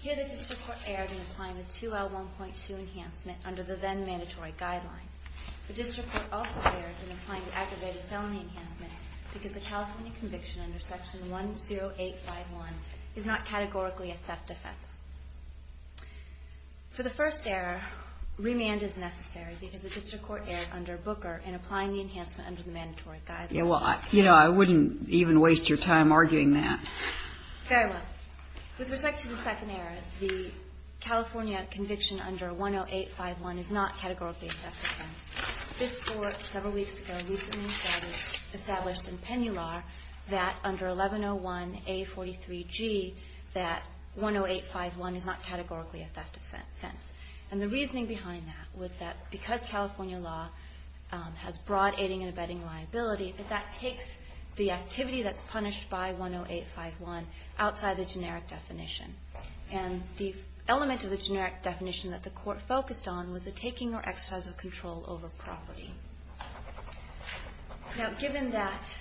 Here, the District Court erred in applying the 2L1.2 enhancement under the then-mandatory guidelines. The District Court also erred in applying the aggravated felony enhancement because a California conviction under Section 10851 is not categorically a theft offense. For the first error, remand is necessary because the District Court erred under Booker in applying the enhancement under the mandatory guidelines. MS. NUGENT Yeah, well, you know, I wouldn't even waste your time arguing that. MS. KAYE Very well. With respect to the second error, the California conviction under 10851 is not categorically a theft offense. This Court several weeks ago recently established in Pennular that under 1101A43G that 10851 is not categorically a theft offense. And the reasoning behind that was that because California law has broad aiding and abetting liability, that that takes the activity that's punished by 10851 outside the generic definition. And the element of the generic definition that the Court focused on was the taking or exercise of control over property. Now, given that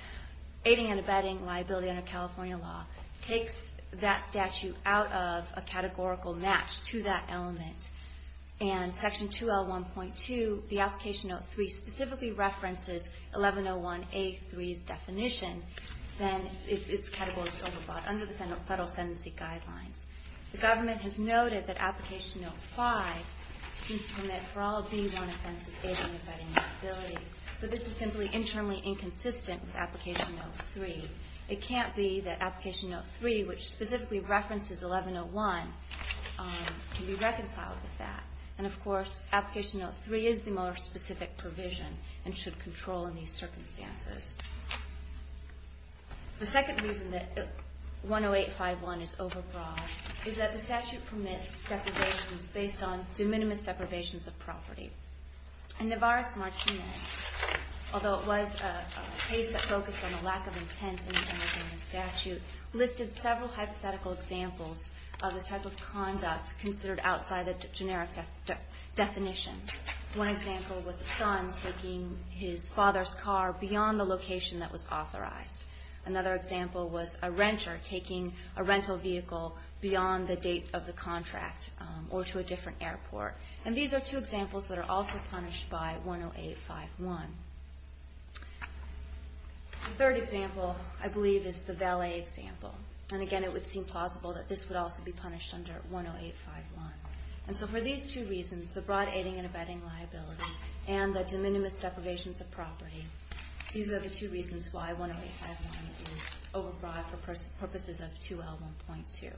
aiding and abetting liability under California law takes that statute out of a categorical match to that element, and Section 2L1.2, the Application Note 3, specifically references 1101A3's definition, then its category is overbought under the federal sentencing state guidelines. The government has noted that Application Note 5 seems to permit for all B1 offenses aiding and abetting liability, but this is simply internally inconsistent with Application Note 3. It can't be that Application Note 3, which specifically references 1101, can be reconciled with that. And of course, Application Note 3 is the more specific provision and should control in these circumstances. The second reason that 10851 is overbought is that the statute permits deprivations based on de minimis deprivations of property. And Navarez-Martinez, although it was a case that focused on a lack of intent in the statute, listed several hypothetical examples of the type of conduct considered outside the generic definition. One example was a son taking his car to a location that was authorized. Another example was a renter taking a rental vehicle beyond the date of the contract or to a different airport. And these are two examples that are also punished by 10851. The third example, I believe, is the valet example. And again, it would seem plausible that this would also be punished under 10851. And so for these two reasons, the broad aiding and abetting liability and the de minimis deprivations of property, these are the two reasons why 10851 is overbought for purposes of 2L1.2.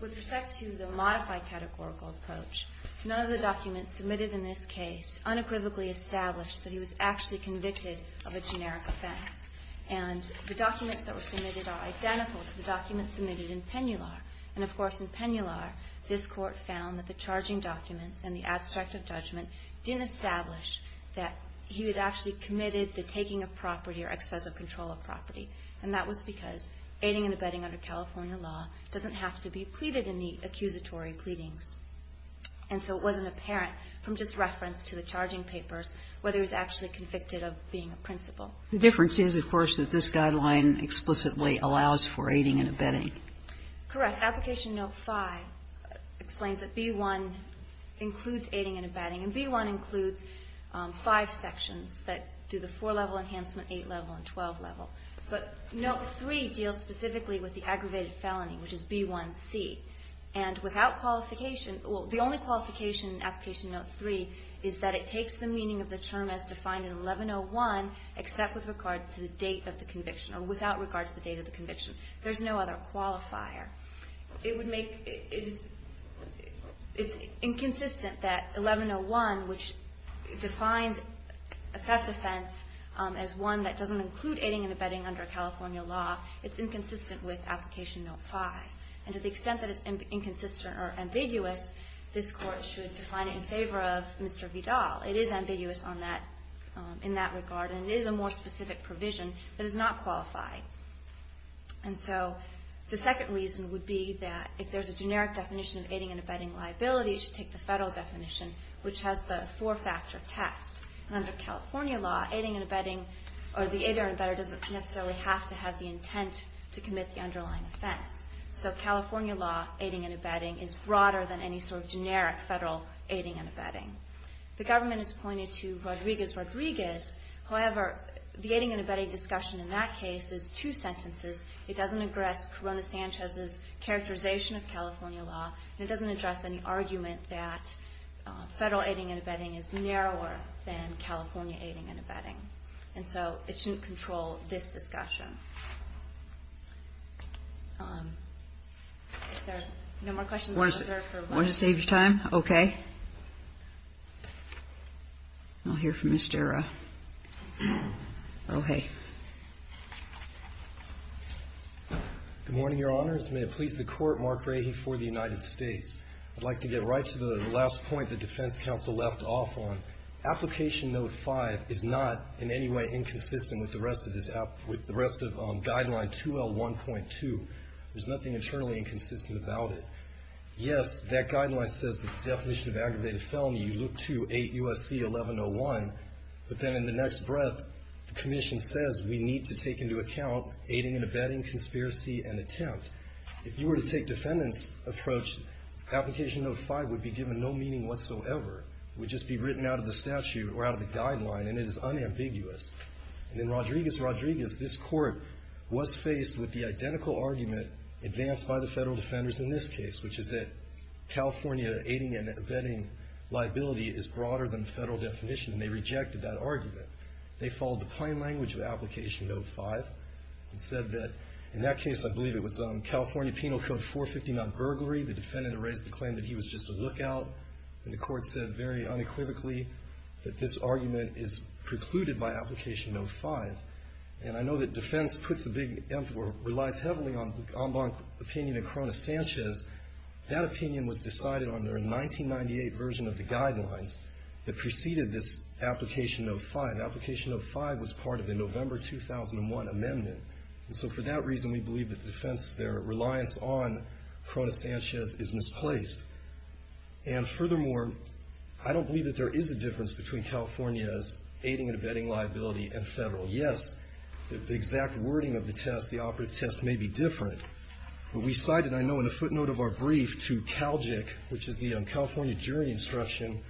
With respect to the modified categorical approach, none of the documents submitted in this case unequivocally established that he was actually convicted of a generic offense. And the documents that were submitted are identical to the documents submitted in Pennular. And of course, in Pennular, this Court found that the charging documents and the abstract of judgment didn't establish that he had actually committed the taking of property or excessive control of property. And that was because aiding and abetting under California law doesn't have to be pleaded in the accusatory pleadings. And so it wasn't apparent from just reference to the charging papers whether he was actually convicted of being a principal. The difference is, of course, that this guideline explicitly allows for aiding and abetting. Correct. Application Note 5 explains that B1 includes aiding and abetting. And B1 includes five sections that do the four-level enhancement, eight-level, and 12-level. But Note 3 deals specifically with the aggravated felony, which is B1c. And without qualification — well, the only qualification in Application Note 3 is that it takes the meaning of the term as defined in 1101, except with regard to the date of the conviction, or without regard to the date of the conviction. There's no other qualifier. It's inconsistent that 1101, which defines a theft offense as one that doesn't include aiding and abetting under California law, it's inconsistent with Application Note 5. And to the extent that it's inconsistent or ambiguous, this Court should define it in favor of Mr. Vidal. It is ambiguous in that regard, and it is a more specific provision that is not qualified. And so the second reason would be that if there's a generic definition of aiding and abetting liability, it should take the federal definition, which has the four-factor test. And under California law, aiding and abetting, or the aider and abetter doesn't necessarily have to have the intent to commit the underlying offense. So California law, aiding and abetting, is broader than any sort of generic federal aiding and abetting. The government has pointed to Rodriguez-Rodriguez. However, the aiding and abetting discussion in that case is two sentences. It doesn't address Corona-Sanchez's characterization of California law, and it doesn't address any argument that federal aiding and abetting is narrower than California aiding and abetting. And so it shouldn't control this discussion. If there are no more questions, I'll reserve for one moment. I'll save your time. Okay. I'll hear from Mr. O'Haye. Good morning, Your Honors. May it please the Court, Mark Rahe for the United States. I'd like to get right to the last point the defense counsel left off on. Application Note 5 is not in any way inconsistent with the rest of this, with the rest of Guideline 2L1.2. There's nothing internally inconsistent about it. Yes, that Guideline says that the definition of aggravated felony, you look to 8 U.S.C. 1101, but then in the next breath, the Commission says we need to take into account aiding and abetting, conspiracy, and attempt. If you were to take defendant's approach, Application Note 5 would be given no meaning whatsoever. It would just be written out of the statute or out of the Guideline, and it is unambiguous. And in Rodriguez-Rodriguez, this Court was faced with the identical argument advanced by the federal defenders in this case, which is that California aiding and abetting liability is broader than the federal definition, and they rejected that argument. They followed the plain language of Application Note 5 and said that, in that case, I believe it was California Penal Code 450, non-burglary. The defendant erased the claim that he was just a lookout, and the Court said very unequivocally that this argument is precluded by Application Note 5. And I know that defense puts a big emphasis, or relies heavily on the en banc opinion of Corona-Sanchez. That opinion was decided under a 1998 version of the Guidelines that preceded this Application Note 5. Application Note 5 was part of the November 2001 amendment, and so for that reason, we believe that defense, their reliance on Corona-Sanchez is misplaced. And furthermore, I don't believe that there is a difference between the federal and the non-federal. Yes, the exact wording of the test, the operative test, may be different, but we cited, I know in a footnote of our brief, to CALGIC, which is the California Jury Instruction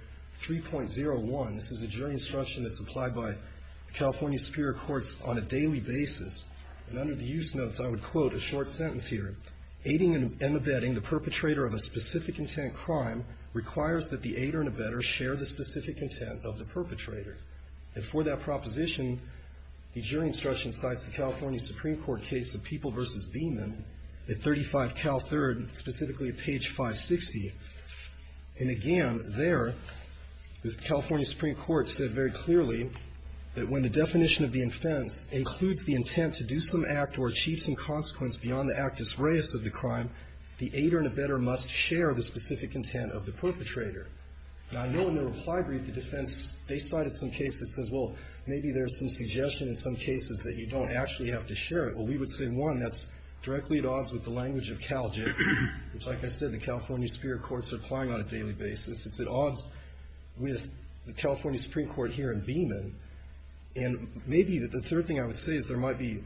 3.01. This is a jury instruction that's applied by the California Superior Courts on a daily basis. And under the use notes, I would quote a short sentence here. Aiding and abetting the perpetrator of a specific intent crime requires that the aider and abetter share the specific intent of the perpetrator. And for that proposition, the jury instruction cites the California Supreme Court case of People v. Beeman at 35 CAL 3rd, specifically at page 560. And again, there, the California Supreme Court said very clearly that when the definition of the offense includes the intent to do some act or achieve some consequence beyond the actus reus of the crime, the aider and abetter must share the specific intent of the perpetrator. Now, I know in the reply brief, the defense, they cited some case that says, well, maybe there's some suggestion in some cases that you don't actually have to share it. Well, we would say, one, that's directly at odds with the language of CALGIC, which like I said, the California Superior Courts are applying on a daily basis. It's at odds with the California Supreme Court here in Beeman. And maybe the third thing I would say is there might be,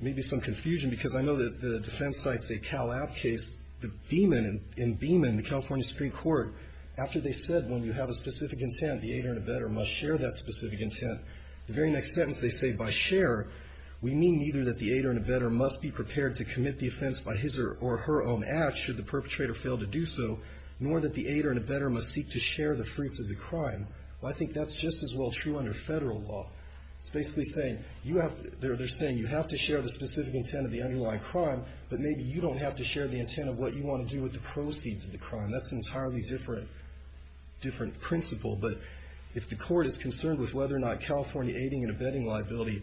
maybe some confusion, because I know that the defense cites a CALAP case, the Beeman, in Beeman, the California Supreme Court, after they said when you have a specific intent, the aider and abetter must share that specific intent. The very next sentence, they say, by share, we mean neither that the aider and abetter must be prepared to commit the offense by his or her own act, should the perpetrator fail to do so, nor that the aider and abetter must seek to share the fruits of the crime. Well, I think that's just as well true under Federal law. It's basically saying, you have, they're saying you have to share the specific intent of the underlying crime, but maybe you don't have to share the intent of what you want to do with the proceeds of the crime. That's an entirely different, different principle, but if the court is concerned with whether or not California aiding and abetting liability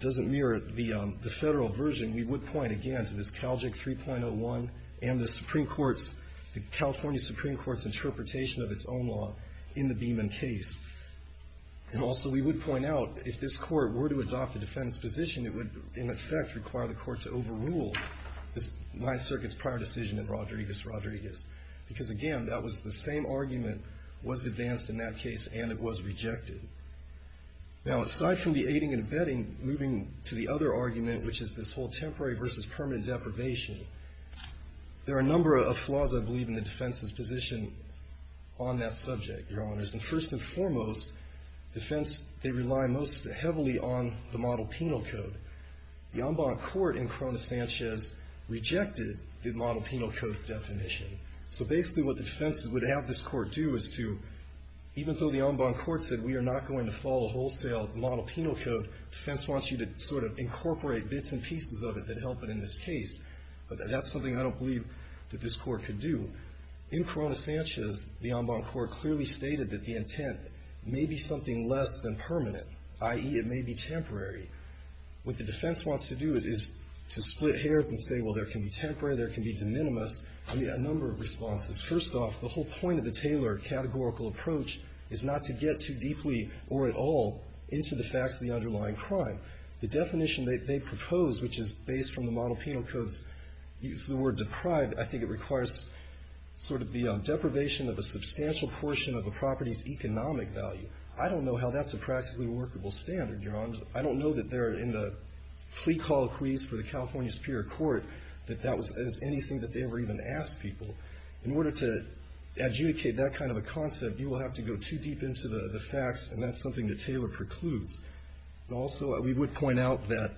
doesn't mirror the Federal version, we would point, again, to this CALJIC 3.01 and the Supreme Court's, the California Supreme Court's interpretation of its own law in the Beeman case. And also, we would point out, if this court were to adopt a defense position, it would, in effect, require the court to overrule this Ninth Circuit's prior decision in Rodriguez, Rodriguez. Because, again, that was the same argument was advanced in that case, and it was rejected. Now, aside from the aiding and abetting, moving to the other argument, which is this whole temporary versus permanent deprivation, there are a number of flaws, I believe, in the defense's position on that subject, Your Honors. And first and foremost, defense, they rely most heavily on the model penal code. The en banc court in Corona-Sanchez rejected the model penal code's definition. So basically, what the defense would have this court do is to, even though the en banc court said, we are not going to follow wholesale model penal code, defense wants you to sort of incorporate bits and pieces of it that help it in this case. But that's something I don't believe that this court could do. In Corona-Sanchez, the en banc court clearly stated that the intent may be something less than permanent, i.e., it may be temporary. What the defense wants to do is to split hairs and say, well, there can be temporary, there can be de minimis. I mean, a number of responses. First off, the whole point of the Taylor categorical approach is not to get too deeply or at all into the facts of the underlying crime. The definition that they propose, which is based from the model penal code's use of the word deprived, I think it requires sort of the deprivation of a substantial portion of a property's economic value. I don't know how that's a practically workable standard, Your Honors. I don't know that they're in the plea call quiz for the California Superior Court that that was anything that they ever even asked people. In order to adjudicate that kind of a concept, you will have to go too deep into the facts, and that's something that Taylor precludes. Also, we would point out that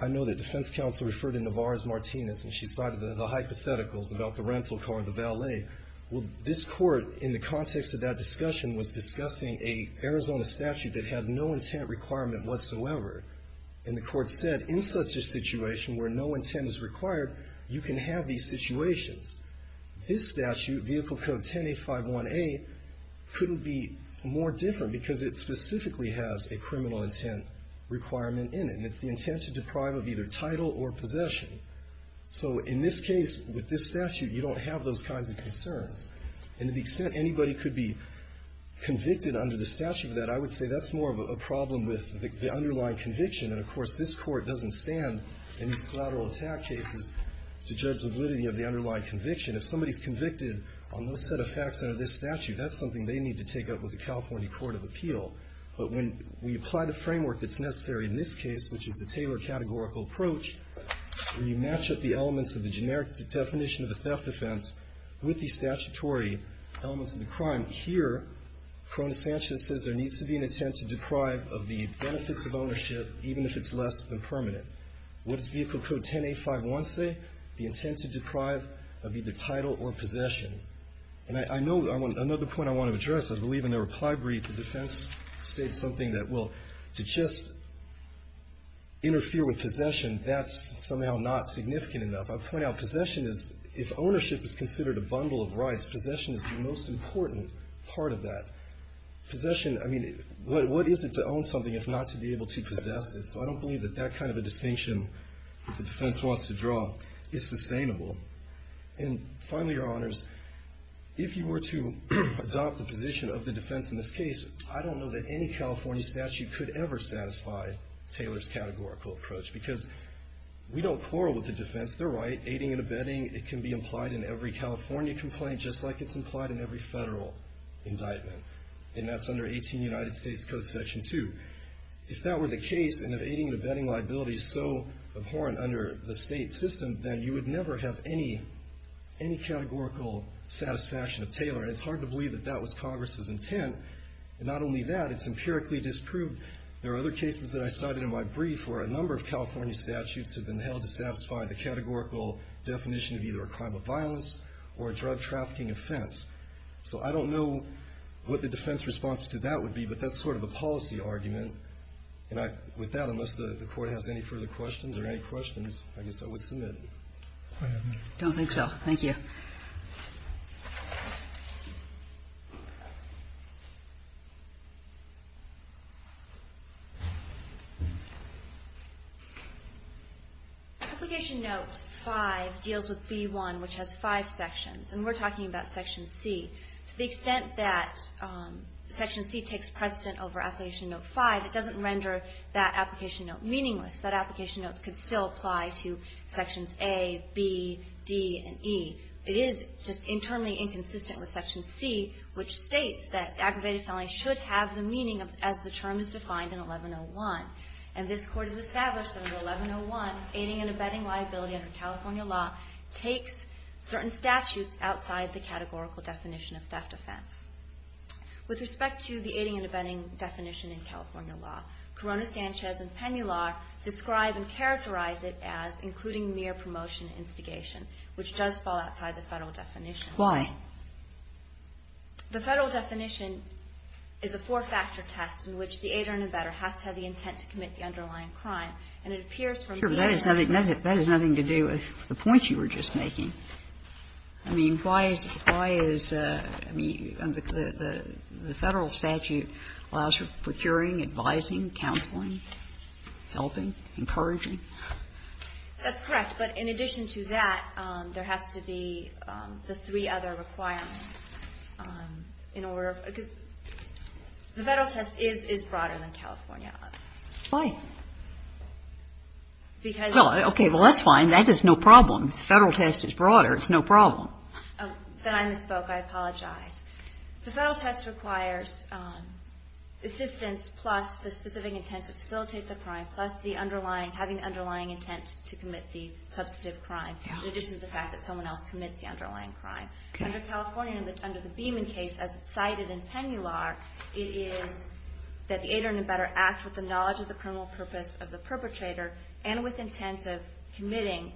I know that defense counsel referred to Navarro's Martinez, and she cited the hypotheticals about the rental car, the valet. Well, this Court, in the context of that discussion, was discussing an Arizona statute that had no intent requirement whatsoever. And the Court said, in such a situation where no intent is required, you can have these situations. This statute, Vehicle Code 10A51A, couldn't be more different because it specifically has a criminal intent requirement in it, and it's the intent to deprive of either title or possession. So in this case, with this statute, you don't have those kinds of concerns. And to the extent anybody could be convicted under the statute of that, I would say that's more of a problem with the underlying conviction. And of course, this Court doesn't stand in these collateral attack cases to judge the validity of the underlying conviction. If somebody's convicted on those set of facts under this statute, that's something they need to take up with the California Court of Appeal. But when we apply the framework that's necessary in this case, which is the Taylor categorical approach, we match up the elements of the generic definition of a theft defense with the statutory elements of the crime. Here, Cronus Sanchez says there needs to be an intent to deprive of the benefits of ownership, even if it's less than permanent. What does Vehicle Code 10A51 say? The intent to deprive of either title or possession. And I know another point I want to address, I believe in the reply brief, the defense states something that, well, to just interfere with possession, that's somehow not significant enough. I point out possession is, if ownership is considered a bundle of rights, possession is the most important part of that. Possession, I mean, what is it to own something if not to be able to possess it? So I don't believe that that kind of a distinction that the defense wants to draw is sustainable. And finally, Your Honors, if you were to adopt the position of the defense in this case, I don't know that any California statute could ever satisfy Taylor's categorical approach, because we don't quarrel with the defense. They're right. Aiding and abetting, it can be implied in every California complaint, just like it's implied in every federal indictment. And that's under 18 United States Code Section 2. If that were the case, and if aiding and abetting liability is so abhorrent under the state system, then you would never have any categorical satisfaction of Taylor. And it's hard to believe that that was Congress's intent. And not only that, it's empirically disproved. There are other cases that I cited in my brief where a number of California statutes have been held to satisfy the categorical definition of either a crime of violence or a drug trafficking offense. So I don't know what the defense response to that would be, but that's sort of a policy argument. And with that, unless the Court has any further questions or any questions, I guess I would submit. Go ahead, ma'am. I don't think so. Thank you. Application Note 5 deals with B1, which has five sections. And we're talking about Section C. To the extent that Section C takes precedent over Application Note 5, it doesn't render that Application Note meaningless. That Application Note could still apply to Sections A, B, D, and E. It is just internally inconsistent with Section C, which states that aggravated felony should have the meaning as the term is defined in 1101. And this Court has established under 1101, aiding and abetting liability under California law takes certain statutes outside the categorical definition of theft offense. With respect to the aiding and abetting definition in California law, Corona Sanchez and Pennular describe and characterize it as including mere promotion and instigation, which does fall outside the Federal definition. Why? The Federal definition is a four-factor test in which the aider and abetter has to have the intent to commit the underlying crime. And it appears from the aider and abetter that that is nothing to do with the point you were just making. I mean, why is the Federal statute allows for procuring, advising, counseling, helping, encouraging? That's correct. But in addition to that, there has to be the three other requirements in order to be able to do that. The Federal test is broader than California. Why? Because Well, okay. Well, that's fine. That is no problem. The Federal test is broader. It's no problem. Then I misspoke. I apologize. The Federal test requires assistance plus the specific intent to facilitate the crime plus the underlying, having the underlying intent to commit the substantive crime in addition to the fact that someone else commits the underlying crime. Under California, under the Beeman case, as cited in Pennular, it is that the aider and abetter act with the knowledge of the criminal purpose of the perpetrator and with intent of committing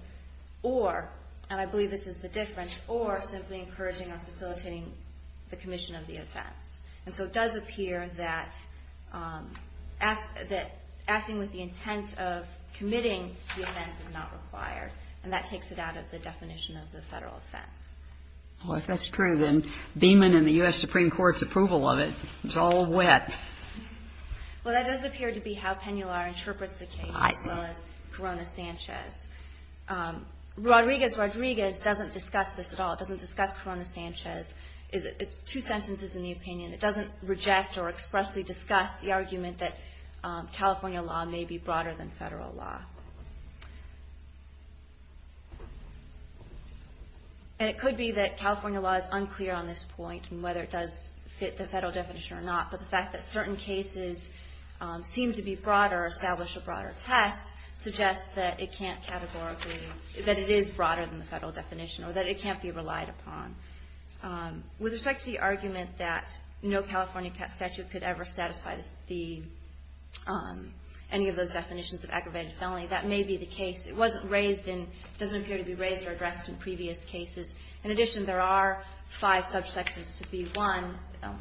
or, and I believe this is the difference, or simply encouraging or facilitating the commission of the offense. And so it does appear that acting with the intent of committing the offense is not required. And that takes it out of the definition of the Federal offense. Well, if that's true, then Beeman and the U.S. Supreme Court's approval of it is all wet. Well, that does appear to be how Pennular interprets the case as well as Corona-Sanchez. Rodriguez-Rodriguez doesn't discuss this at all. It doesn't discuss Corona-Sanchez. It's two sentences in the opinion. It doesn't reject or expressly discuss the argument that California law may be broader than Federal law. And it could be that California law is unclear on this point and whether it does fit the Federal definition or not. But the fact that certain cases seem to be broader or establish a broader test suggests that it can't categorically, that it is broader than the Federal definition or that it can't be relied upon. With respect to the argument that no California statute could ever satisfy any of those definitions of aggravated felony, that may be the case. It wasn't raised and doesn't appear to be raised or addressed in previous cases. In addition, there are five subsections to B1,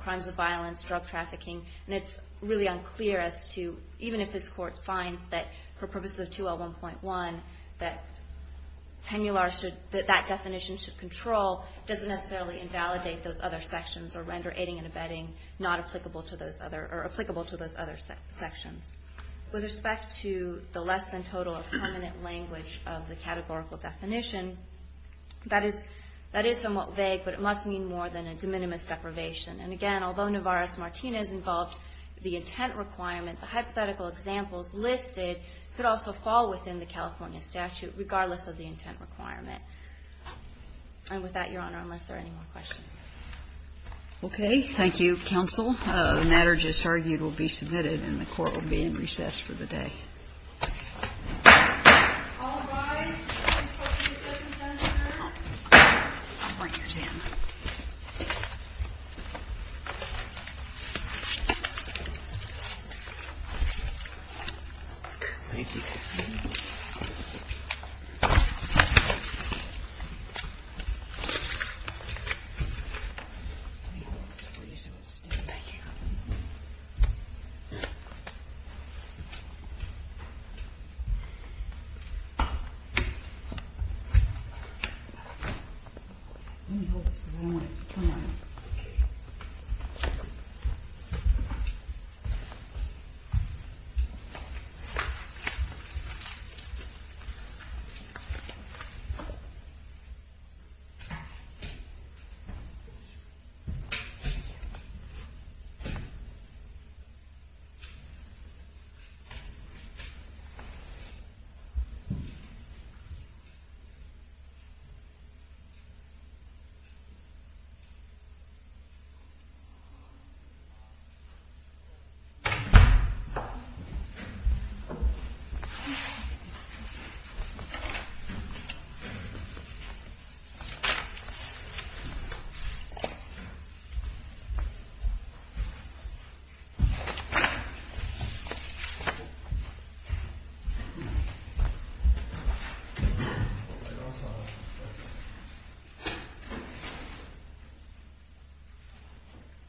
crimes of violence, drug trafficking, and it's really unclear as to, even if this Court finds that for purposes of 2L1.1, that Pennular should, that that definition should control, doesn't necessarily invalidate those other sections or render aiding and abetting not applicable to those other, or applicable to those other sections. With respect to the less than total or permanent language of the categorical definition, that is, that is somewhat vague, but it must mean more than a de minimis deprivation. And again, although Navarro-Martinez involved the intent requirement, the California statute, regardless of the intent requirement. And with that, Your Honor, unless there are any more questions. Okay. Thank you, counsel. The matter just argued will be submitted and the Court will be in recess for the day. All rise.